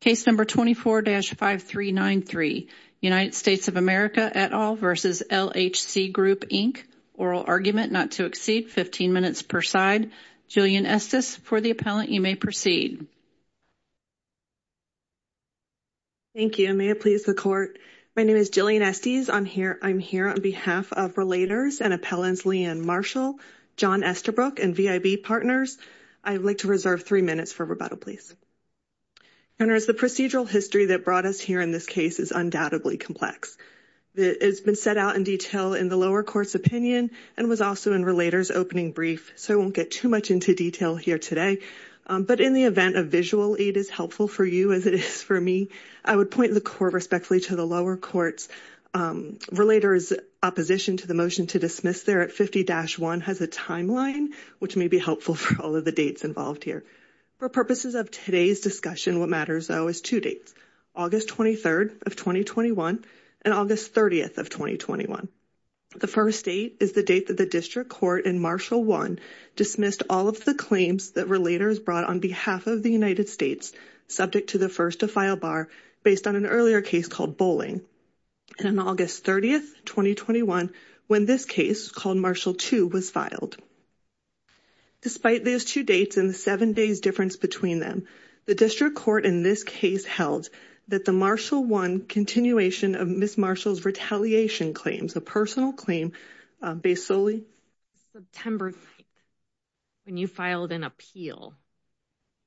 Case number 24-5393, United States of America et al versus LHC Group Inc. Oral argument not to exceed 15 minutes per side. Jillian Estes, for the appellant, you may proceed. Thank you. May it please the court. My name is Jillian Estes. I'm here on behalf of Relators and Appellants Leigh Ann Marshall, John Esterbrook, and VIB Partners. I would like to reserve three minutes for rebuttal, please. The procedural history that brought us here in this case is undoubtedly complex. It's been set out in detail in the lower court's opinion and was also in Relators' opening brief, so I won't get too much into detail here today. But in the event a visual aid is helpful for you as it is for me, I would point the court respectfully to the lower court's Relators' opposition to the motion to dismiss there at 50-1 has a timeline, which may be helpful for the dates involved here. For purposes of today's discussion, what matters, though, is two dates, August 23rd of 2021 and August 30th of 2021. The first date is the date that the district court in Marshall 1 dismissed all of the claims that Relators brought on behalf of the United States subject to the first-to-file bar based on an earlier case called Bowling. And on August 30th, 2021, when this case called Marshall 2 was filed. Despite those two dates and the seven days difference between them, the district court in this case held that the Marshall 1 continuation of Ms. Marshall's retaliation claims, a personal claim based solely on September 9th, when you filed an appeal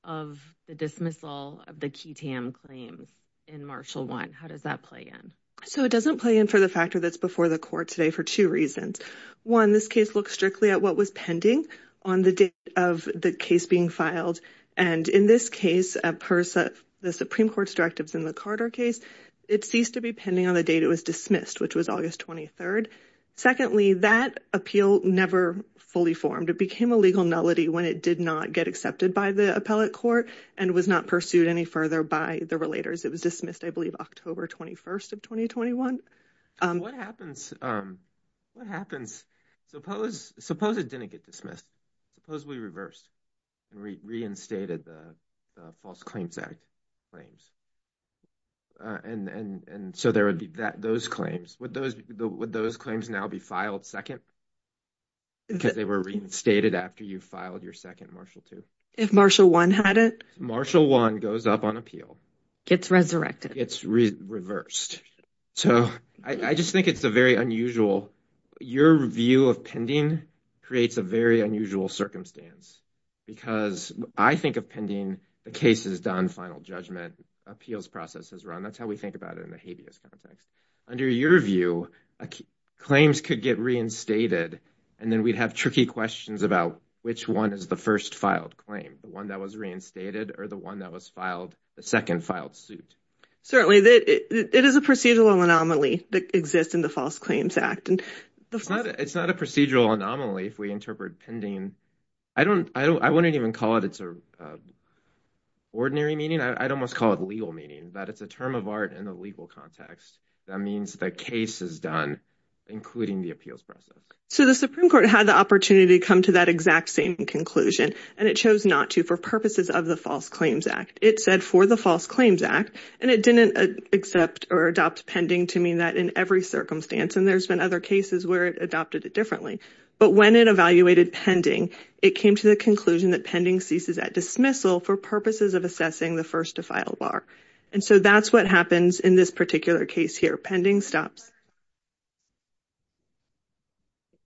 of the dismissal of the QTAM claims in Marshall 1. How does that play in? So it doesn't play in for the factor that's before the court today for two reasons. One, this case looks strictly at what was pending on the date of the case being filed. And in this case, the Supreme Court's directives in the Carter case, it ceased to be pending on the date it was dismissed, which was August 23rd. Secondly, that appeal never fully formed. It became a legal nullity when it did not get accepted by the appellate court and was not pursued any further by the Relators. It was dismissed, I believe, October 21st of 2021. What happens? What happens? Suppose it didn't get dismissed. Supposedly reversed and reinstated the False Claims Act claims. And so there would be those claims. Would those claims now be filed second? Because they were reinstated after you filed your second Marshall 2? If Marshall 1 had it. Marshall 1 goes up on appeal. Gets resurrected. Gets reversed. So I just think it's a very unusual. Your view of pending creates a very unusual circumstance because I think of pending the case is done, final judgment appeals process is run. That's how we think about it in the habeas context. Under your view, claims could get reinstated and then we'd have tricky questions about which one is the first filed claim, the one that was reinstated or the one that was filed the second filed suit. Certainly that it is a procedural anomaly that exists in the False Claims Act and it's not. It's not a procedural anomaly if we interpret pending. I don't. I wouldn't even call it. It's a. Ordinary meaning I'd almost call it legal meaning that it's a term of art in the legal context. That means the case is done, including the appeals process. So the Supreme Court had the opportunity to come to that exact same conclusion and it chose not to for purposes of the False Claims Act. It said for the False Claims Act and it didn't accept or adopt pending to mean that in every circumstance. And there's been other cases where it adopted it differently. But when it evaluated pending, it came to the conclusion that pending ceases at dismissal for purposes of assessing the first to file bar. And so that's what happens in this particular case here. Pending stops.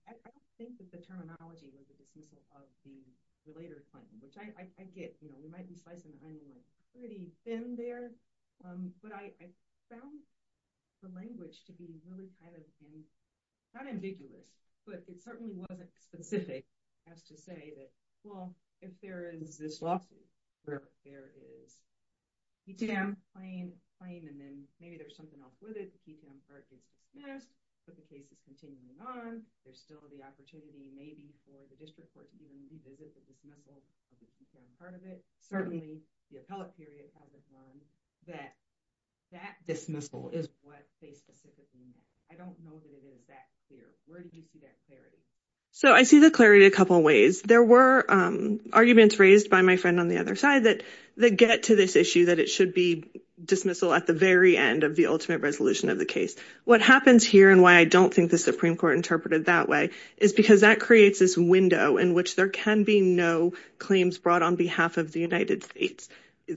I don't think that the terminology was at the dismissal of the later claim, which I get, you know, we might be slicing the onion pretty thin there. But I found the language to be really kind of not ambiguous, but it certainly wasn't specific as to say that, well, if there is this lawsuit, there is a PTM claim and then maybe there's something else with it. Yes, but the case is continuing on. There's still the opportunity maybe for the district court to even revisit the dismissal of the PTM part of it. Certainly the appellate period has admonished that that dismissal is what they specifically meant. I don't know that it is that clear. Where do you see that clarity? So I see the clarity a couple of ways. There were arguments raised by my friend on the other side that get to this issue that it should be dismissal at the very end of the ultimate resolution of the case. What happens here and why I don't think the Supreme Court interpreted that way is because that creates this window in which there can be no claims brought on behalf of the United States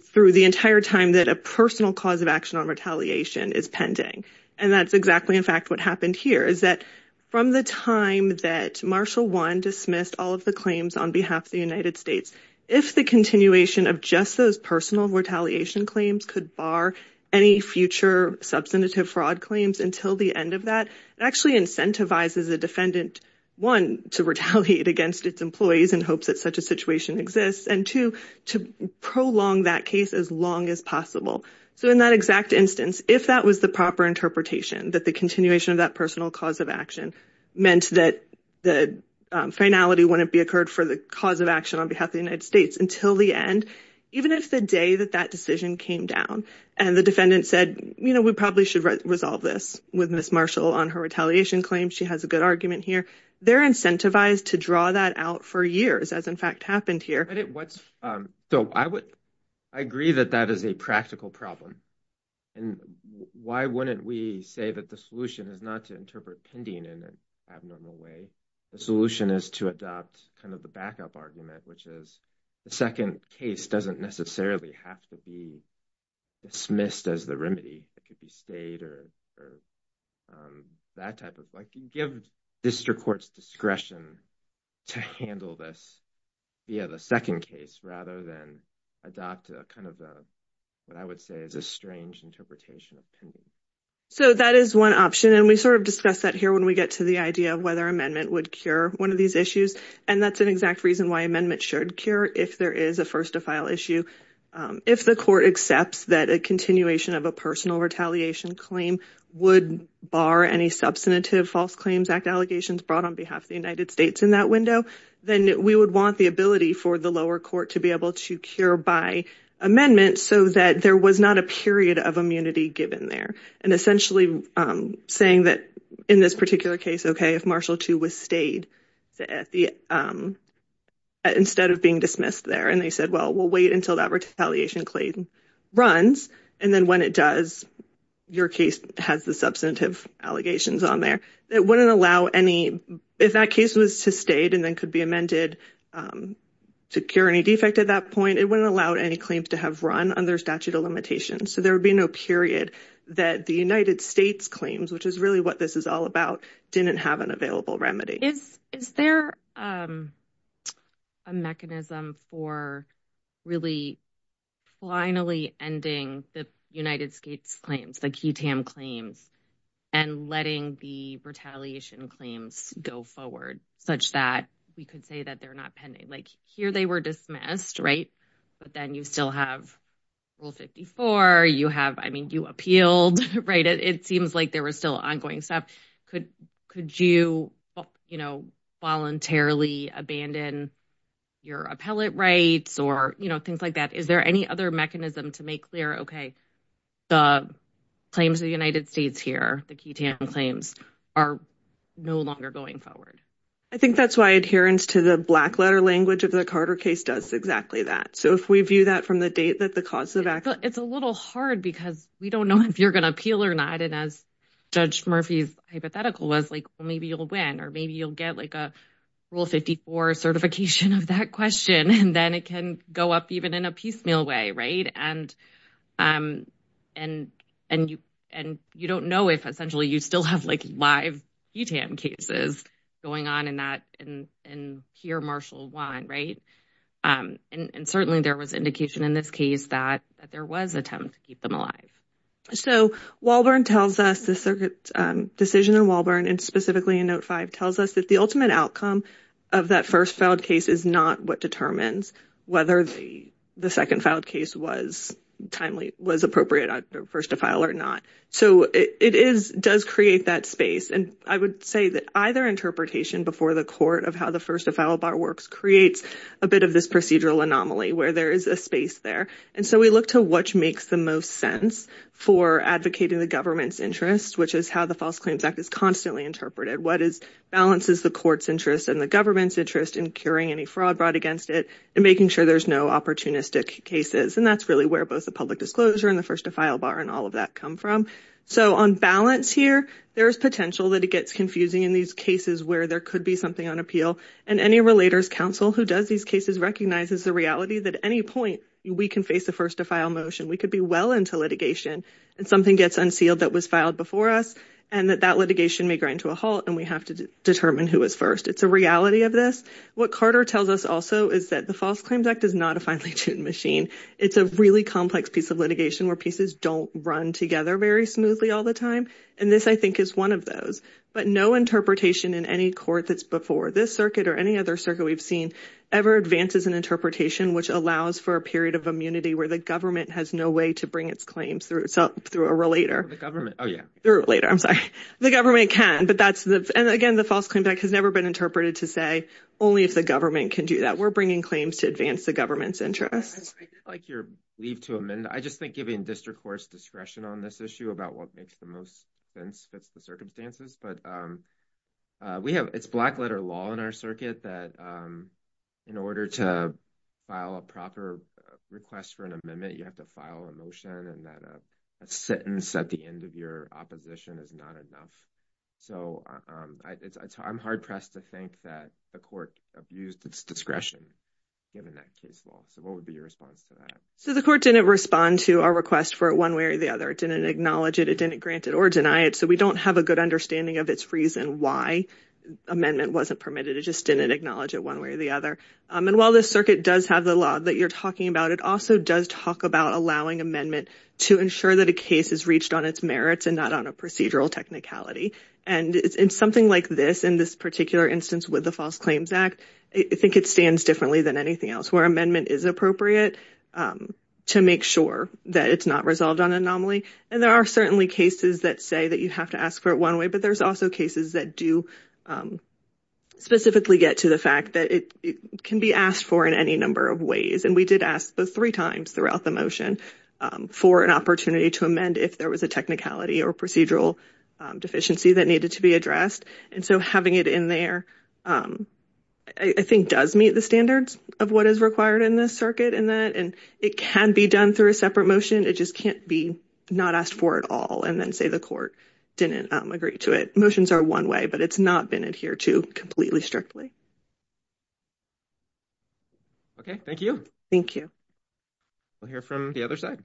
through the entire time that a personal cause of action on retaliation is pending. And that's exactly, in fact, what happened here is that from the time that Marshall one dismissed all of the claims on behalf of the United States, if the continuation of just those personal retaliation claims could bar any future substantive fraud claims until the end of that, it actually incentivizes the defendant, one, to retaliate against its employees in hopes that such a situation exists, and two, to prolong that case as long as possible. So in that exact instance, if that was the proper interpretation that the continuation of that personal cause of action meant that finality wouldn't be occurred for the cause of action on behalf of the United States until the end, even if the day that that decision came down and the defendant said, you know, we probably should resolve this with Ms. Marshall on her retaliation claim, she has a good argument here, they're incentivized to draw that out for years as in fact happened here. So I agree that that is a practical problem. And why wouldn't we say that the solution is to interpret pending in an abnormal way, the solution is to adopt kind of the backup argument, which is the second case doesn't necessarily have to be dismissed as the remedy, it could be stayed or that type of like give district courts discretion to handle this via the second case rather than adopt kind of what I would say is a strange interpretation of pending. So that is one option. And we sort of discussed that here when we get to the idea of whether amendment would cure one of these issues. And that's an exact reason why amendment should cure if there is a first to file issue. If the court accepts that a continuation of a personal retaliation claim would bar any substantive False Claims Act allegations brought on behalf of the United States in that window, then we would want the ability for the lower court to be able to cure by amendment so that there was not a period of immunity given there. And essentially saying that in this particular case, okay, if Marshall 2 was stayed, instead of being dismissed there, and they said, well, we'll wait until that retaliation claim runs. And then when it does, your case has the substantive allegations on there. It wouldn't allow any, if that case was sustained and then could be amended to cure any defect at that point, it wouldn't allow any claims to have run under statute of limitations. So there would be no period that the United States claims, which is really what this is all about, didn't have an available remedy. Is there a mechanism for really finally ending the United States claims, the QTAM claims, and letting the retaliation claims go forward such that we could say that they're not pending? Like here they were dismissed, right? But then you still have Rule 54, you have, I mean, you appealed, right? It seems like there was still ongoing stuff. Could you voluntarily abandon your appellate rights or things like that? Is there any other mechanism to make clear, okay, the claims of the United States here, the QTAM claims are no longer going forward? I think that's why adherence to the black letter language of the Carter case does exactly that. So if we view that from the date that the cause of act... It's a little hard because we don't know if you're going to appeal or not. And as Judge Murphy's hypothetical was like, well, maybe you'll win, or maybe you'll get like a Rule 54 certification of that question. And then it can go up even in a piecemeal way, right? And you don't know if essentially you still have like live QTAM cases going on in that, and here Marshall won, right? And certainly there was indication in this case that there was attempt to keep them alive. So Walburn tells us the circuit decision in Walburn and specifically in Note 5 tells us that the ultimate outcome of that first filed case is not what determines whether the second filed case was appropriate first to file or not. So it does create that space. And I would say that either interpretation before the court of how the first to file bar works creates a bit of this procedural anomaly where there is a space there. And so we look to what makes the most sense for advocating the government's interest, which is how the False Claims Act is constantly interpreted. What balances the court's interest and the government's interest in curing any fraud brought against it and making sure there's no opportunistic cases. And that's really where both the public disclosure and the first to file bar and all of that come from. So on balance here, there's potential that it gets confusing in these cases where there could be something on appeal. And any relators counsel who does these cases recognizes the reality that at any point we can face a first to file motion. We could be well into litigation and something gets unsealed that was filed before us and that that litigation may grind to a halt and we have to determine who is first. It's a reality of this. What Carter tells us also is that the False Claims Act is not a finely tuned machine. It's a really complex piece of litigation where pieces don't run together very smoothly all the time. And this, I think, is one of those. But no interpretation in any court that's before this circuit or any other circuit we've seen ever advances an interpretation which allows for a period of immunity where the government has no way to bring its claims through a relator. The government can, but that's the again, the False Claims Act has never been interpreted to say only if the government can do that. We're bringing claims to advance the government's interest. I did like your leave to amend. I just think giving district courts discretion on this issue about what makes the most sense fits the circumstances. But we have, it's black letter law in our circuit that in order to file a proper request for an amendment, you have to file a motion and that a sentence at the end of your opposition is not enough. So I'm hard-pressed to think that a court abused its discretion given that case law. So what would be your response to that? So the court didn't respond to our request for it one way or the other. It didn't acknowledge it. It didn't grant it or deny it. So we don't have a good understanding of its reason why amendment wasn't permitted. It just didn't acknowledge it one way or the other. And while this circuit does have the law that you're talking about, it also does talk about allowing amendment to ensure that a case is reached on its merits and not on a procedural technicality. And in something like this, in this particular instance with the False Claims Act, I think it stands differently than anything else where amendment is appropriate to make sure that it's not resolved on anomaly. And there are certainly cases that say that you have to ask for it one way, but there's also cases that do specifically get to the fact that it can be asked for in any number of ways. And we did ask those three times throughout the motion for an opportunity to amend if there was a technicality or procedural deficiency that needed to be addressed. And so having it in there, I think, does meet the standards of what is required in this circuit in that. And it can be done through a separate motion. It just can't be not asked for at all and then say the court didn't agree to it. Motions are one way, but it's not been adhered to completely strictly. Okay, thank you. Thank you. We'll hear from the other side.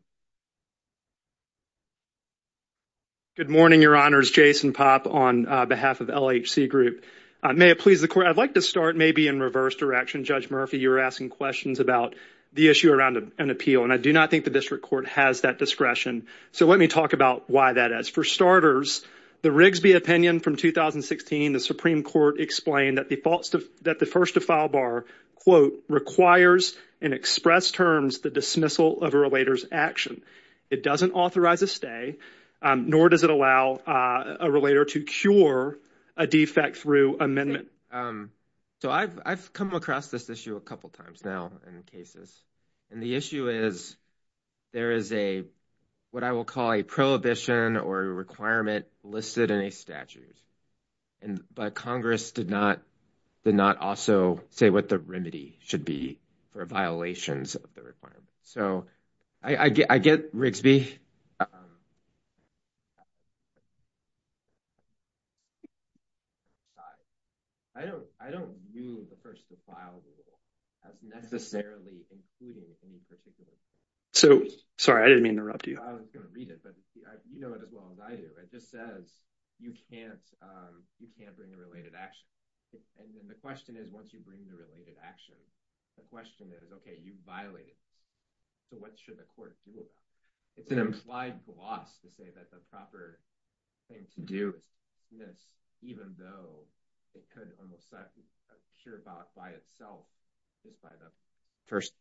Good morning, Your Honors. Jason Popp on behalf of LHC Group. May it please the court, I'd like to start maybe in reverse direction. Judge Murphy, you were asking questions about the issue around an appeal, and I do not think the district court has that discretion. So let me talk about why that is. For starters, the Rigsby opinion from 2016, the Supreme Court explained that the first to file bar, quote, requires and express terms the dismissal of a relator's action. It doesn't authorize a stay, nor does it allow a relator to cure a defect through amendment. So I've come across this issue a couple times now in cases. And the issue is there is a, what I will call, a prohibition or a requirement listed in a statute. And, but Congress did not, did not also say what the remedy should be for violations of the requirement. So I get, I get Rigsby. I don't, I don't view the first to file rule as necessarily including any particular thing. So, sorry, I didn't mean to interrupt you. I was going to read it, but you know it as well as I do. It just says you can't, you can't bring a related action. And then the question is, once you bring the related action, the question is, okay, you violate it. So what should the court do about it? It's an implied gloss to say that the proper thing to do is dismiss, even though it could almost be sure about by itself, just by the first.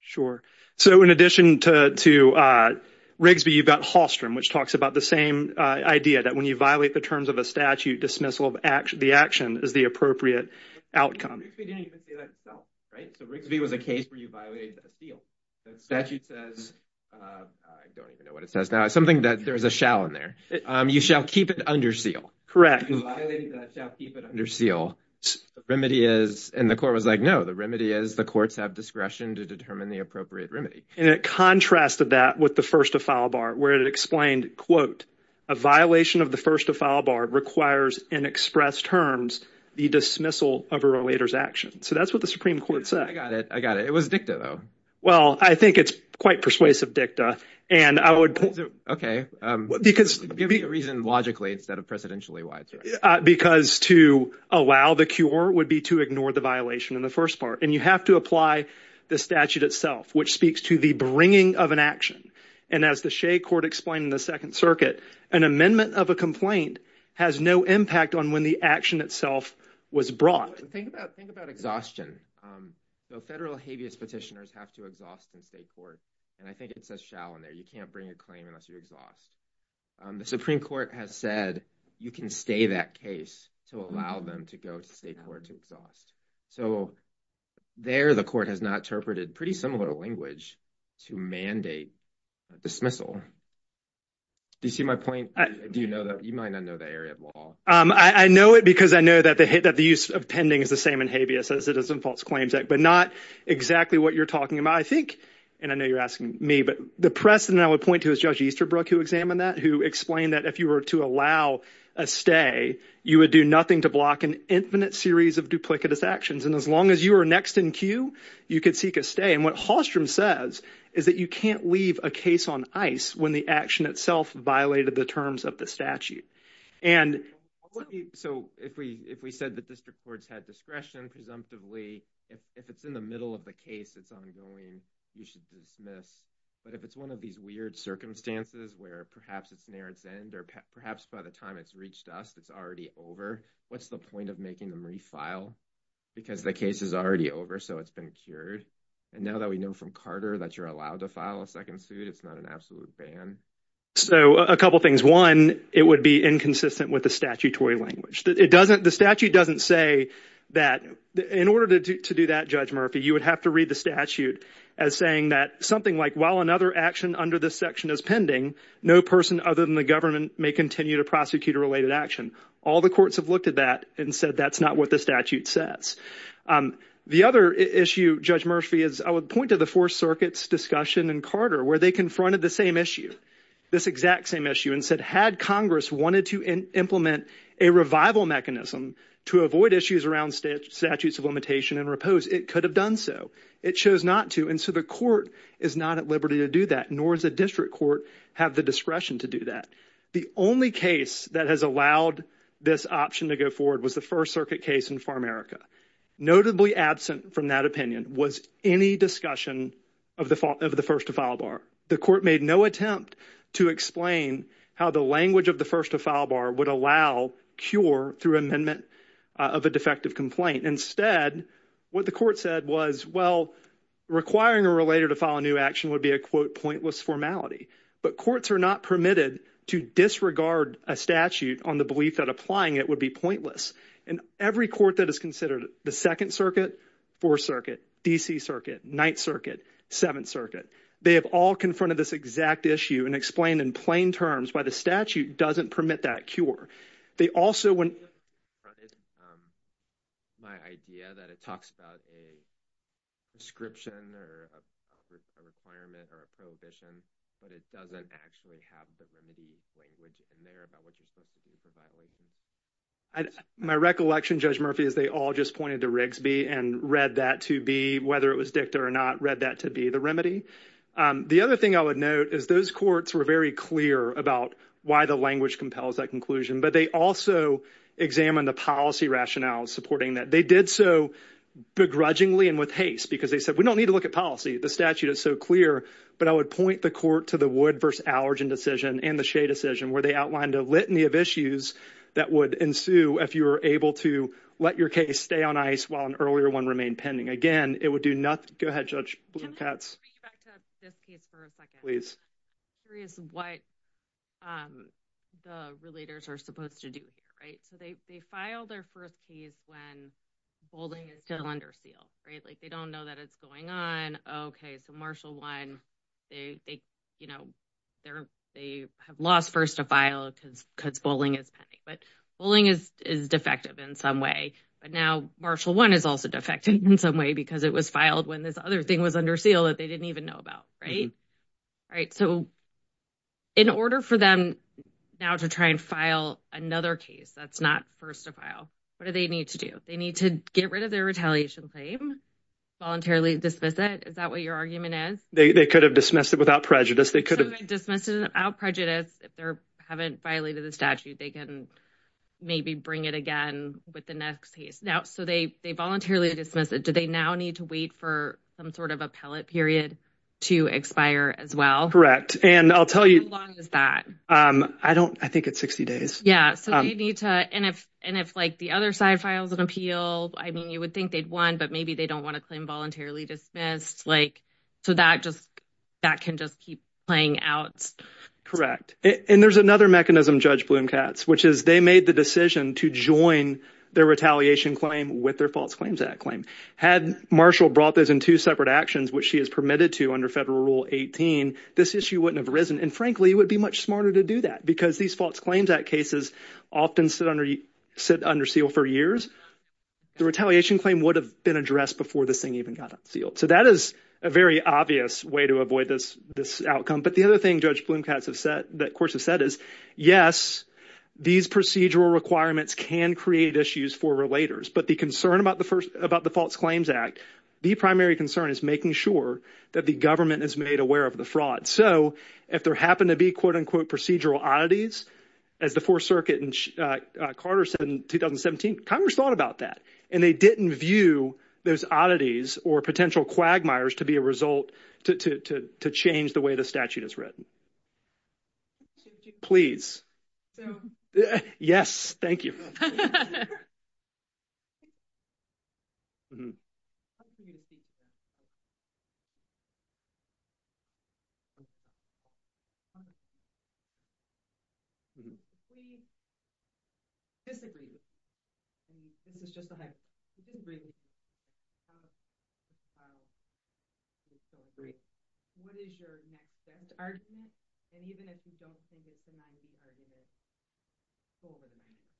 Sure. So in addition to, to Rigsby, you've got Hallstrom, which talks about the same idea that when you violate the terms of a statute, dismissal of the action is the appropriate outcome. Rigsby didn't even say that itself, right? So Rigsby was a case where you violated the seal. That statute says, I don't even know what it says now. It's something that there's a shall in there. You shall keep it under seal. Correct. You violated that, shall keep it under seal. The remedy is, and the court was like, no, the remedy is the courts have discretion to determine the appropriate remedy. And it contrasted that with the first to file bar, where it explained, quote, a violation of the first to file bar requires in expressed terms, the dismissal of a related action. So that's what the Supreme Court said. I got it. I got it. It was dicta though. Well, I think it's quite persuasive dicta and I would. Okay. Give me a reason logically instead of presidentially wide. Because to allow the cure would be to ignore the violation in the first part. And you have to apply the statute itself, which speaks to the bringing of an action. And as the Shea court explained in the second circuit, an amendment of a complaint has no impact on when the action itself was brought. Think about exhaustion. Federal habeas petitioners have to exhaust in state court. And I think it says shall in there. You can't bring a claim unless you exhaust. The Supreme Court has said you can stay that case to allow them to go to state court to exhaust. So there, the court has not interpreted pretty similar language to mandate dismissal. Do you see my point? Do you know that you might not know the area of law? I know it because I know that the hit that the use of pending is the same in habeas as it is but not exactly what you're talking about. I think. And I know you're asking me, but the precedent I would point to is Judge Easterbrook, who examined that, who explained that if you were to allow a stay, you would do nothing to block an infinite series of duplicitous actions. And as long as you are next in queue, you could seek a stay. And what Hallstrom says is that you can't leave a case on ice when the action itself violated the terms of the statute. And so if we if we said that district courts had discretion, presumptively, if it's in the middle of the case, it's ongoing, you should dismiss. But if it's one of these weird circumstances where perhaps it's near its end or perhaps by the time it's reached us, it's already over, what's the point of making them refile? Because the case is already over, so it's been cured. And now that we know from Carter that you're allowed to file a second suit, it's not an absolute ban. So a couple of things. One, it would be inconsistent with the statutory language. It doesn't, the statute doesn't say that. In order to do that, Judge Murphy, you would have to read the statute as saying that something like, while another action under this section is pending, no person other than the government may continue to prosecute a related action. All the courts have looked at that and said that's not what the statute says. The other issue, Judge Murphy, is I would point to the Fourth Circuit's discussion in Carter where they confronted the same issue, this exact same issue, and said had Congress wanted to implement a revival mechanism to avoid issues around statutes of limitation and repose, it could have done so. It chose not to, and so the court is not at liberty to do that, nor does the district court have the discretion to do that. The only case that has allowed this option to go forward was the First Circuit case in Far America. Notably absent from that opinion was any discussion of the first to file bar. The court made no attempt to explain how the language of the first to file bar would allow cure through amendment of a defective complaint. Instead, what the court said was, well, requiring a relator to file a new action would be a quote, pointless formality. But courts are not permitted to disregard a statute on the belief that applying it would be pointless. And every court that is considered, the Second Circuit, Fourth Circuit, D.C. Circuit, Ninth Circuit, Seventh Circuit, they have all confronted this exact issue and explained in plain terms why the statute doesn't permit that cure. They also went. My idea that it talks about a description or a requirement or a prohibition, but it doesn't actually have the language in there about what you're supposed to do. My recollection, Judge Murphy, is they all just pointed to Rigsby and read that to be whether it or not read that to be the remedy. The other thing I would note is those courts were very clear about why the language compels that conclusion. But they also examined the policy rationale supporting that they did so begrudgingly and with haste because they said we don't need to look at policy. The statute is so clear. But I would point the court to the Wood versus Allergen decision and the Shea decision where they outlined a litany of issues that would ensue if you were able to let your case stay on ice while an earlier one remained pending. Again, it would do nothing. Go ahead, Judge Blumkatz. Can I just bring you back to this case for a second? Please. I'm curious what the relators are supposed to do here, right? So they file their first case when bowling is still under seal, right? Like they don't know that it's going on. Okay, so Marshall One, they have lost first to file because bowling is pending. But bowling is defective in some way. Now Marshall One is also defective in some way because it was filed when this other thing was under seal that they didn't even know about, right? So in order for them now to try and file another case that's not first to file, what do they need to do? They need to get rid of their retaliation claim, voluntarily dismiss it. Is that what your argument is? They could have dismissed it without prejudice. They could have dismissed it without prejudice. If they haven't violated the statute, they can maybe bring it again with the next case. So they voluntarily dismiss it. Do they now need to wait for some sort of appellate period to expire as well? Correct. And I'll tell you- How long is that? I think it's 60 days. Yeah. And if the other side files an appeal, I mean, you would think they'd won, but maybe they don't want to claim voluntarily dismissed. So that can just keep playing out. Correct. And there's another mechanism, Judge Bloom-Katz, which is they made the decision to join their retaliation claim with their False Claims Act claim. Had Marshall brought those in two separate actions, which she has permitted to under Federal Rule 18, this issue wouldn't have arisen. And frankly, it would be much smarter to do that because these False Claims Act cases often sit under seal for years. The retaliation claim would have been addressed before this thing even got unsealed. So that is a very obvious way to avoid this outcome. But the other thing, Judge Bloom-Katz, of course, has said is, yes, these procedural requirements can create issues for relators. But the concern about the False Claims Act, the primary concern is making sure that the government is made aware of the fraud. So if there happened to be, quote, unquote, procedural oddities as the Fourth Circuit and Carter said in 2017, Congress thought about that and they didn't view those oddities or potential quagmires to be a result to change the way the statute is written. Should you- Please. So- Yes, thank you. I'm going to speak to this. What is your next best argument? And even if you don't think it's a nice argument,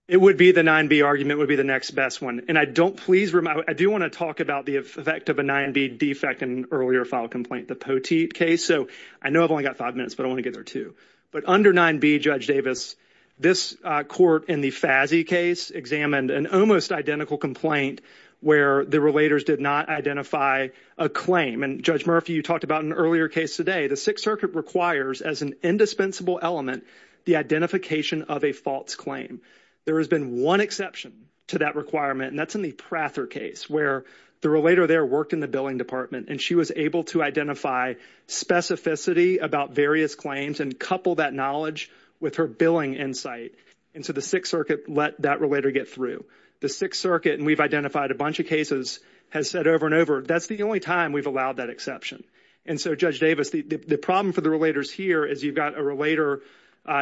it would be the 9B argument would be the next best one. And I don't please remind- I do want to talk about the effect of a 9B defect in earlier file complaint, the Poteet case. So I know I've only got five minutes, but I want to get there too. But under 9B, Judge Davis, this court in the FASI case examined an almost identical complaint where the relators did not identify a claim. And Judge Murphy, you talked about an earlier case today. The Sixth Circuit requires as an indispensable element, the identification of a false claim. There has been one exception to that requirement and that's in the Prather case where the relator there worked in the billing department and she was able to identify specificity about various claims and couple that knowledge with her billing insight. And so the Sixth Circuit let that relator get through. The Sixth Circuit, and we've identified a bunch of cases, has said over and over, that's the only time we've allowed that exception. And so Judge Davis, the problem for the relators here is you've got a relator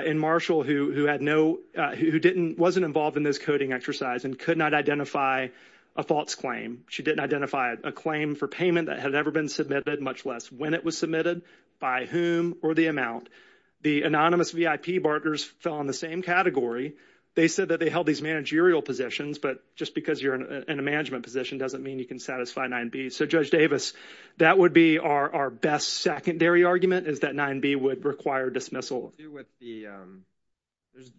in Marshall who had no- who didn't- wasn't involved in this coding exercise and could not identify a false claim. She didn't identify a claim for payment that had ever been submitted, much less when it was submitted, by whom, or the amount. The anonymous VIP partners fell in the same category. They said that they held these managerial positions, but just because you're in a management position doesn't mean you can satisfy 9B. So Judge Davis, that would be our best secondary argument, is that 9B would require dismissal. There's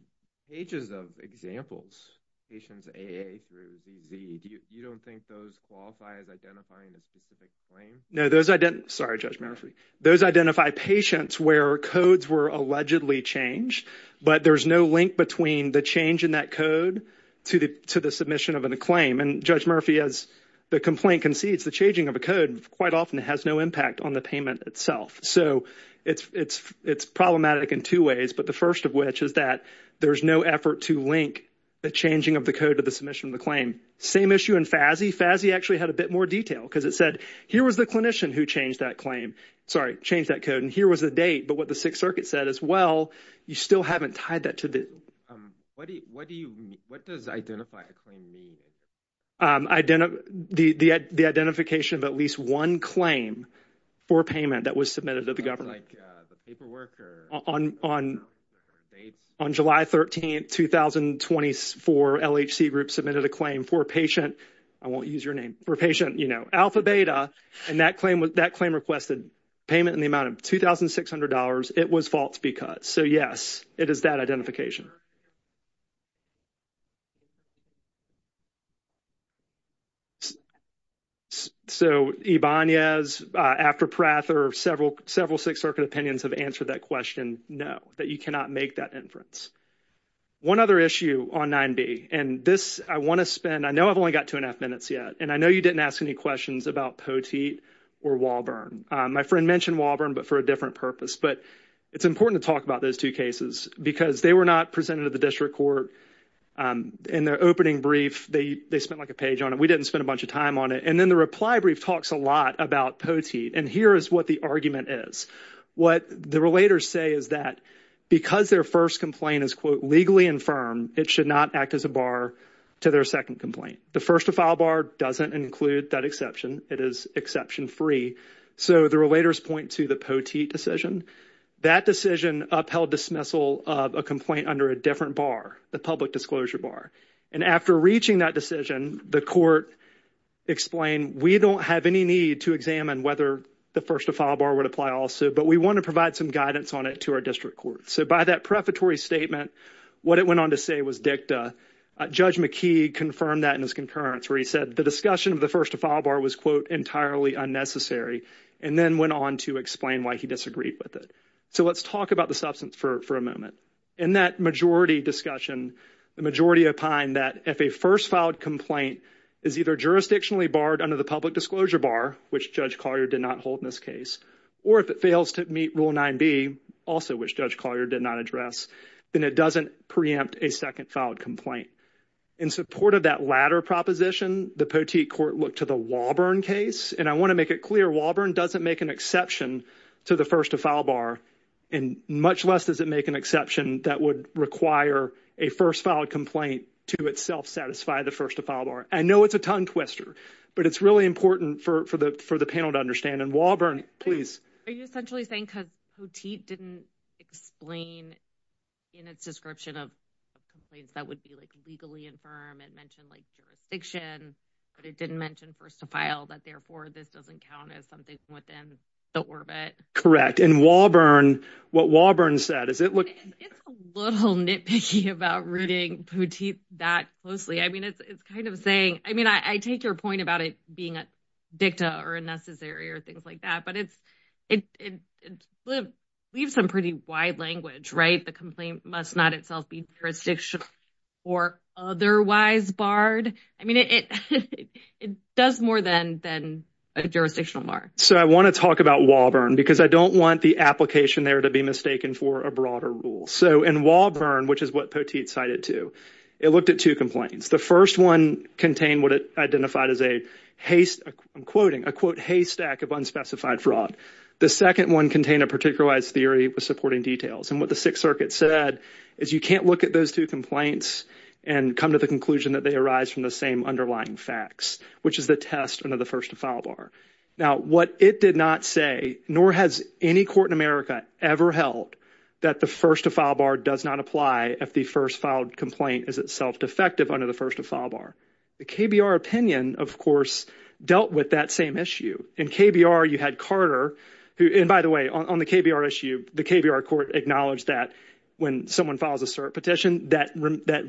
pages of examples, patients A-A through Z-Z. You don't think those qualify as identifying a specific claim? No, those ident- sorry, Judge Murphy. Those identify patients where codes were allegedly changed, but there's no link between the change in that code to the- to the submission of a claim. And Judge Murphy, as the complaint concedes, the changing of a code quite often has no impact on the payment itself. So it's- it's- it's problematic in two ways, but the first of which is that there's no effort to link the changing of the code to the submission of the claim. Same issue in FASI. FASI actually had a bit more detail because it said, here was the clinician who changed that claim- sorry, changed that code, and here was the date. But what the Sixth Circuit said as well, you still haven't tied that to the- What do you- what do you- what does identify a claim mean? Ident- the- the identification of at least one claim for payment that was submitted to the government. Like the paperwork or- On- on- dates? On July 13th, 2024, LHC groups submitted a claim for a patient- I won't use your name- for a patient, you know, Alpha Beta, and that claim- that claim requested payment in the amount of $2,600. It was false because. So yes, it is that identification. So Ibanez, after Prather, several- several Sixth Circuit opinions have answered that question, no, that you cannot make that inference. One other issue on 9B, and this I want to spend- I know I've only got two and a half minutes yet, and I know you didn't ask any questions about Poteet or Wahlberg. My friend mentioned Wahlberg, but for a different purpose. But it's important to talk about those two cases because they were not presented to the district court in their opening brief. They- they spent like a page on it. We didn't spend a bunch of time on it. And then the reply brief talks a lot about Poteet, and here is what the argument is. What the relators say is that because their first complaint is, quote, legally infirm, it should not act as a bar to their second complaint. The first to file bar doesn't include that exception. It is exception free. So the relators point to the Poteet decision. That decision upheld dismissal of a complaint under a different bar, the public disclosure bar. And after reaching that decision, the court explained, we don't have any need to examine whether the first to file bar would apply also, but we want to provide some guidance on it to our district court. So by that prefatory statement, what it went on to say was dicta. Judge McKee confirmed that in his concurrence, where he said the discussion of the first to file bar was, quote, entirely unnecessary, and then went on to explain why he disagreed with it. So let's talk about the substance for a moment. In that majority discussion, the majority opined that if a first filed complaint is either jurisdictionally barred under the public disclosure bar, which Judge Collier did not hold in this case, or if it fails to meet Rule 9b, also which Judge Collier did not address, then it doesn't preempt a second filed complaint. In support of that latter proposition, the Poteet court looked to the Wahlborn case. And I want to make it clear Wahlborn doesn't make an exception to the first to file bar, and much less does it make an exception that would require a first filed complaint to itself satisfy the first to file bar. I know it's a tongue twister, but it's really important for the panel to understand. And Wahlborn, please. Are you essentially saying because Poteet didn't explain in its description of complaints that would be like legally infirm and mentioned like jurisdiction, but it didn't mention first to file, that therefore this doesn't count as something within the orbit? Correct. And Wahlborn, what Wahlborn said, is it... It's a little nitpicky about reading Poteet that closely. I mean, it's kind of saying, I mean, I take your point about it being a dicta or a necessary or things like that, but it leaves some pretty wide language, right? The complaint must not itself be jurisdictional or otherwise barred. I mean, it does more than a jurisdictional bar. So I want to talk about Wahlborn because I don't want the application there to be mistaken for a broader rule. So in Wahlborn, which is what Poteet cited too, it looked at two complaints. The first one contained what it identified as a haste, I'm quoting, a quote, haystack of unspecified fraud. The second one contained a particularized theory with supporting details. And what the Sixth Circuit said is you can't look at those two complaints and come to the conclusion that they arise from the same underlying facts, which is the test under the first to file bar. Now, what it did not say, nor has any court in ever held that the first to file bar does not apply if the first filed complaint is itself defective under the first to file bar. The KBR opinion, of course, dealt with that same issue. In KBR, you had Carter who, and by the way, on the KBR issue, the KBR court acknowledged that when someone files a cert petition, that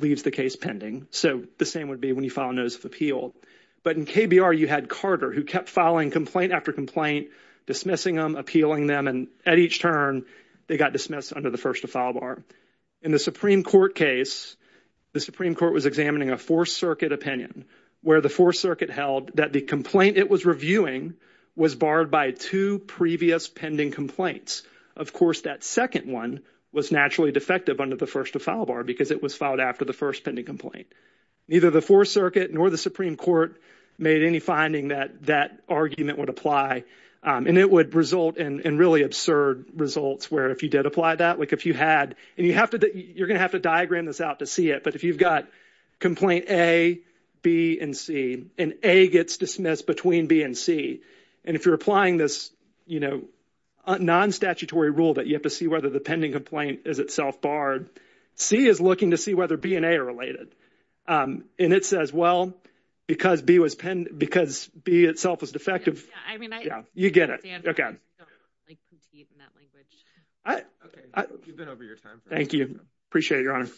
leaves the case pending. So the same would be when you file a notice of appeal. But in KBR, you had Carter who kept filing complaint after complaint, dismissing them, appealing them, and at each turn they got dismissed under the first to file bar. In the Supreme Court case, the Supreme Court was examining a Fourth Circuit opinion where the Fourth Circuit held that the complaint it was reviewing was barred by two previous pending complaints. Of course, that second one was naturally defective under the first to file bar because it was filed after the first pending complaint. Neither the Fourth Circuit nor the Supreme Court made any finding that that argument would apply. And it would result in really absurd results where if you did apply that, like if you had, and you have to, you're going to have to diagram this out to see it, but if you've got complaint A, B, and C, and A gets dismissed between B and C, and if you're applying this, you know, non-statutory rule that you have to see whether the pending complaint is itself barred, C is looking to see whether B and A are related. And it says, well, because B was, because B itself was defective. Yeah, you get it. Thank you. Appreciate it, Your Honor.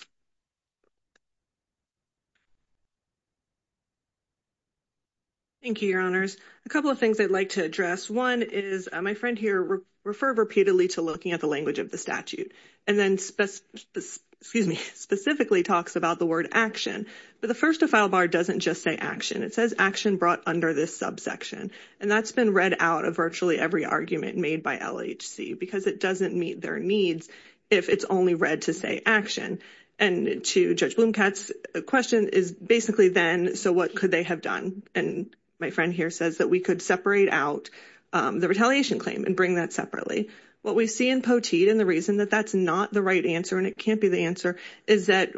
Thank you, Your Honors. A couple of things I'd like to address. One is my friend here referred repeatedly to looking at the language of the statute, and then specifically talks about word action. But the first to file bar doesn't just say action. It says action brought under this subsection. And that's been read out of virtually every argument made by LHC because it doesn't meet their needs if it's only read to say action. And to Judge Blomkatt's question is basically then, so what could they have done? And my friend here says that we could separate out the retaliation claim and bring that separately. What we see in Poteet and the reason that that's not the right answer, and it can't be the answer, is that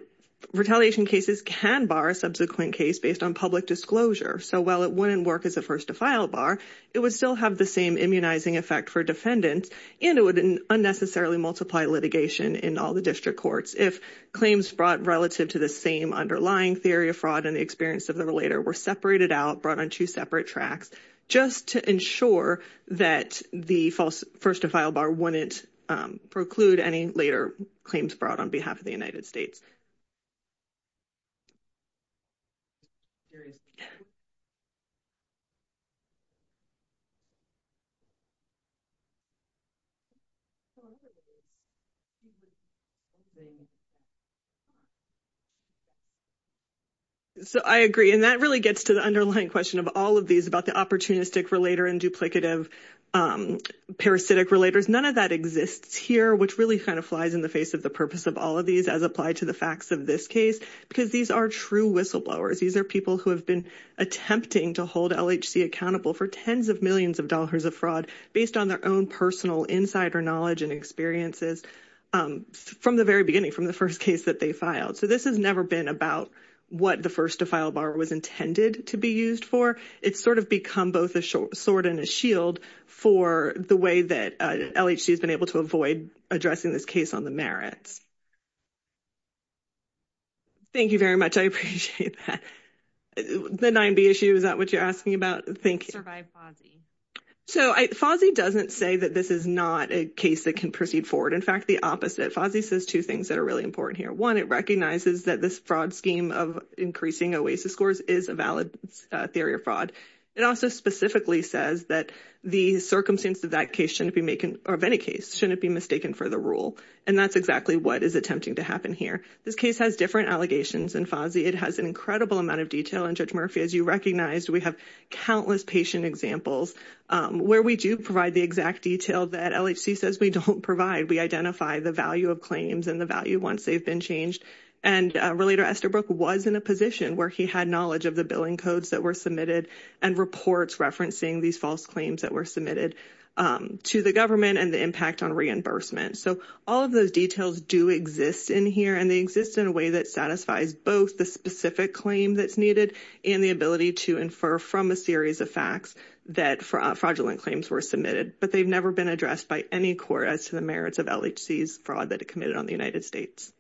retaliation cases can bar a subsequent case based on public disclosure. So while it wouldn't work as a first to file bar, it would still have the same immunizing effect for defendants, and it would unnecessarily multiply litigation in all the district courts if claims brought relative to the same underlying theory of fraud and the experience of the relator were separated out, brought on two separate tracks, just to ensure that the first to file bar wouldn't preclude any later claims brought on behalf of the United States. So I agree, and that really gets to the underlying question of all of these about the opportunistic relator and duplicative parasitic relators. None of that exists here, which really kind of flies in the face of the purpose of all of these as applied to the facts of this case, because these are true whistleblowers. These are people who have been attempting to hold LHC accountable for tens of millions of dollars of fraud based on their own personal insider knowledge and experiences from the very beginning, from the first case that they filed. So this has never been about what the first to file bar was intended to be used for. It's sort of become both a sword and a shield for the way that LHC has been able to avoid addressing this case on the merits. Thank you very much. I appreciate that. The 9B issue, is that what you're asking about? Survive FASI. So FASI doesn't say that this is not a case that can proceed forward. In fact, the opposite. FASI says two things that are really important here. One, it recognizes that this fraud scheme of increasing OASIS scores is a valid theory of fraud. It also specifically says that circumstances of any case shouldn't be mistaken for the rule. And that's exactly what is attempting to happen here. This case has different allegations in FASI. It has an incredible amount of detail. And Judge Murphy, as you recognized, we have countless patient examples where we do provide the exact detail that LHC says we don't provide. We identify the value of claims and the value once they've been changed. And Relator Estherbrook was in a position where he had knowledge of the billing codes that were submitted and reports referencing these false claims that were submitted to the government and the impact on reimbursement. So all of those details do exist in here and they exist in a way that satisfies both the specific claim that's needed and the ability to infer from a series of facts that fraudulent claims were submitted. But they've never been addressed by any court as to the merits of LHC's fraud that it committed on behalf of the United States.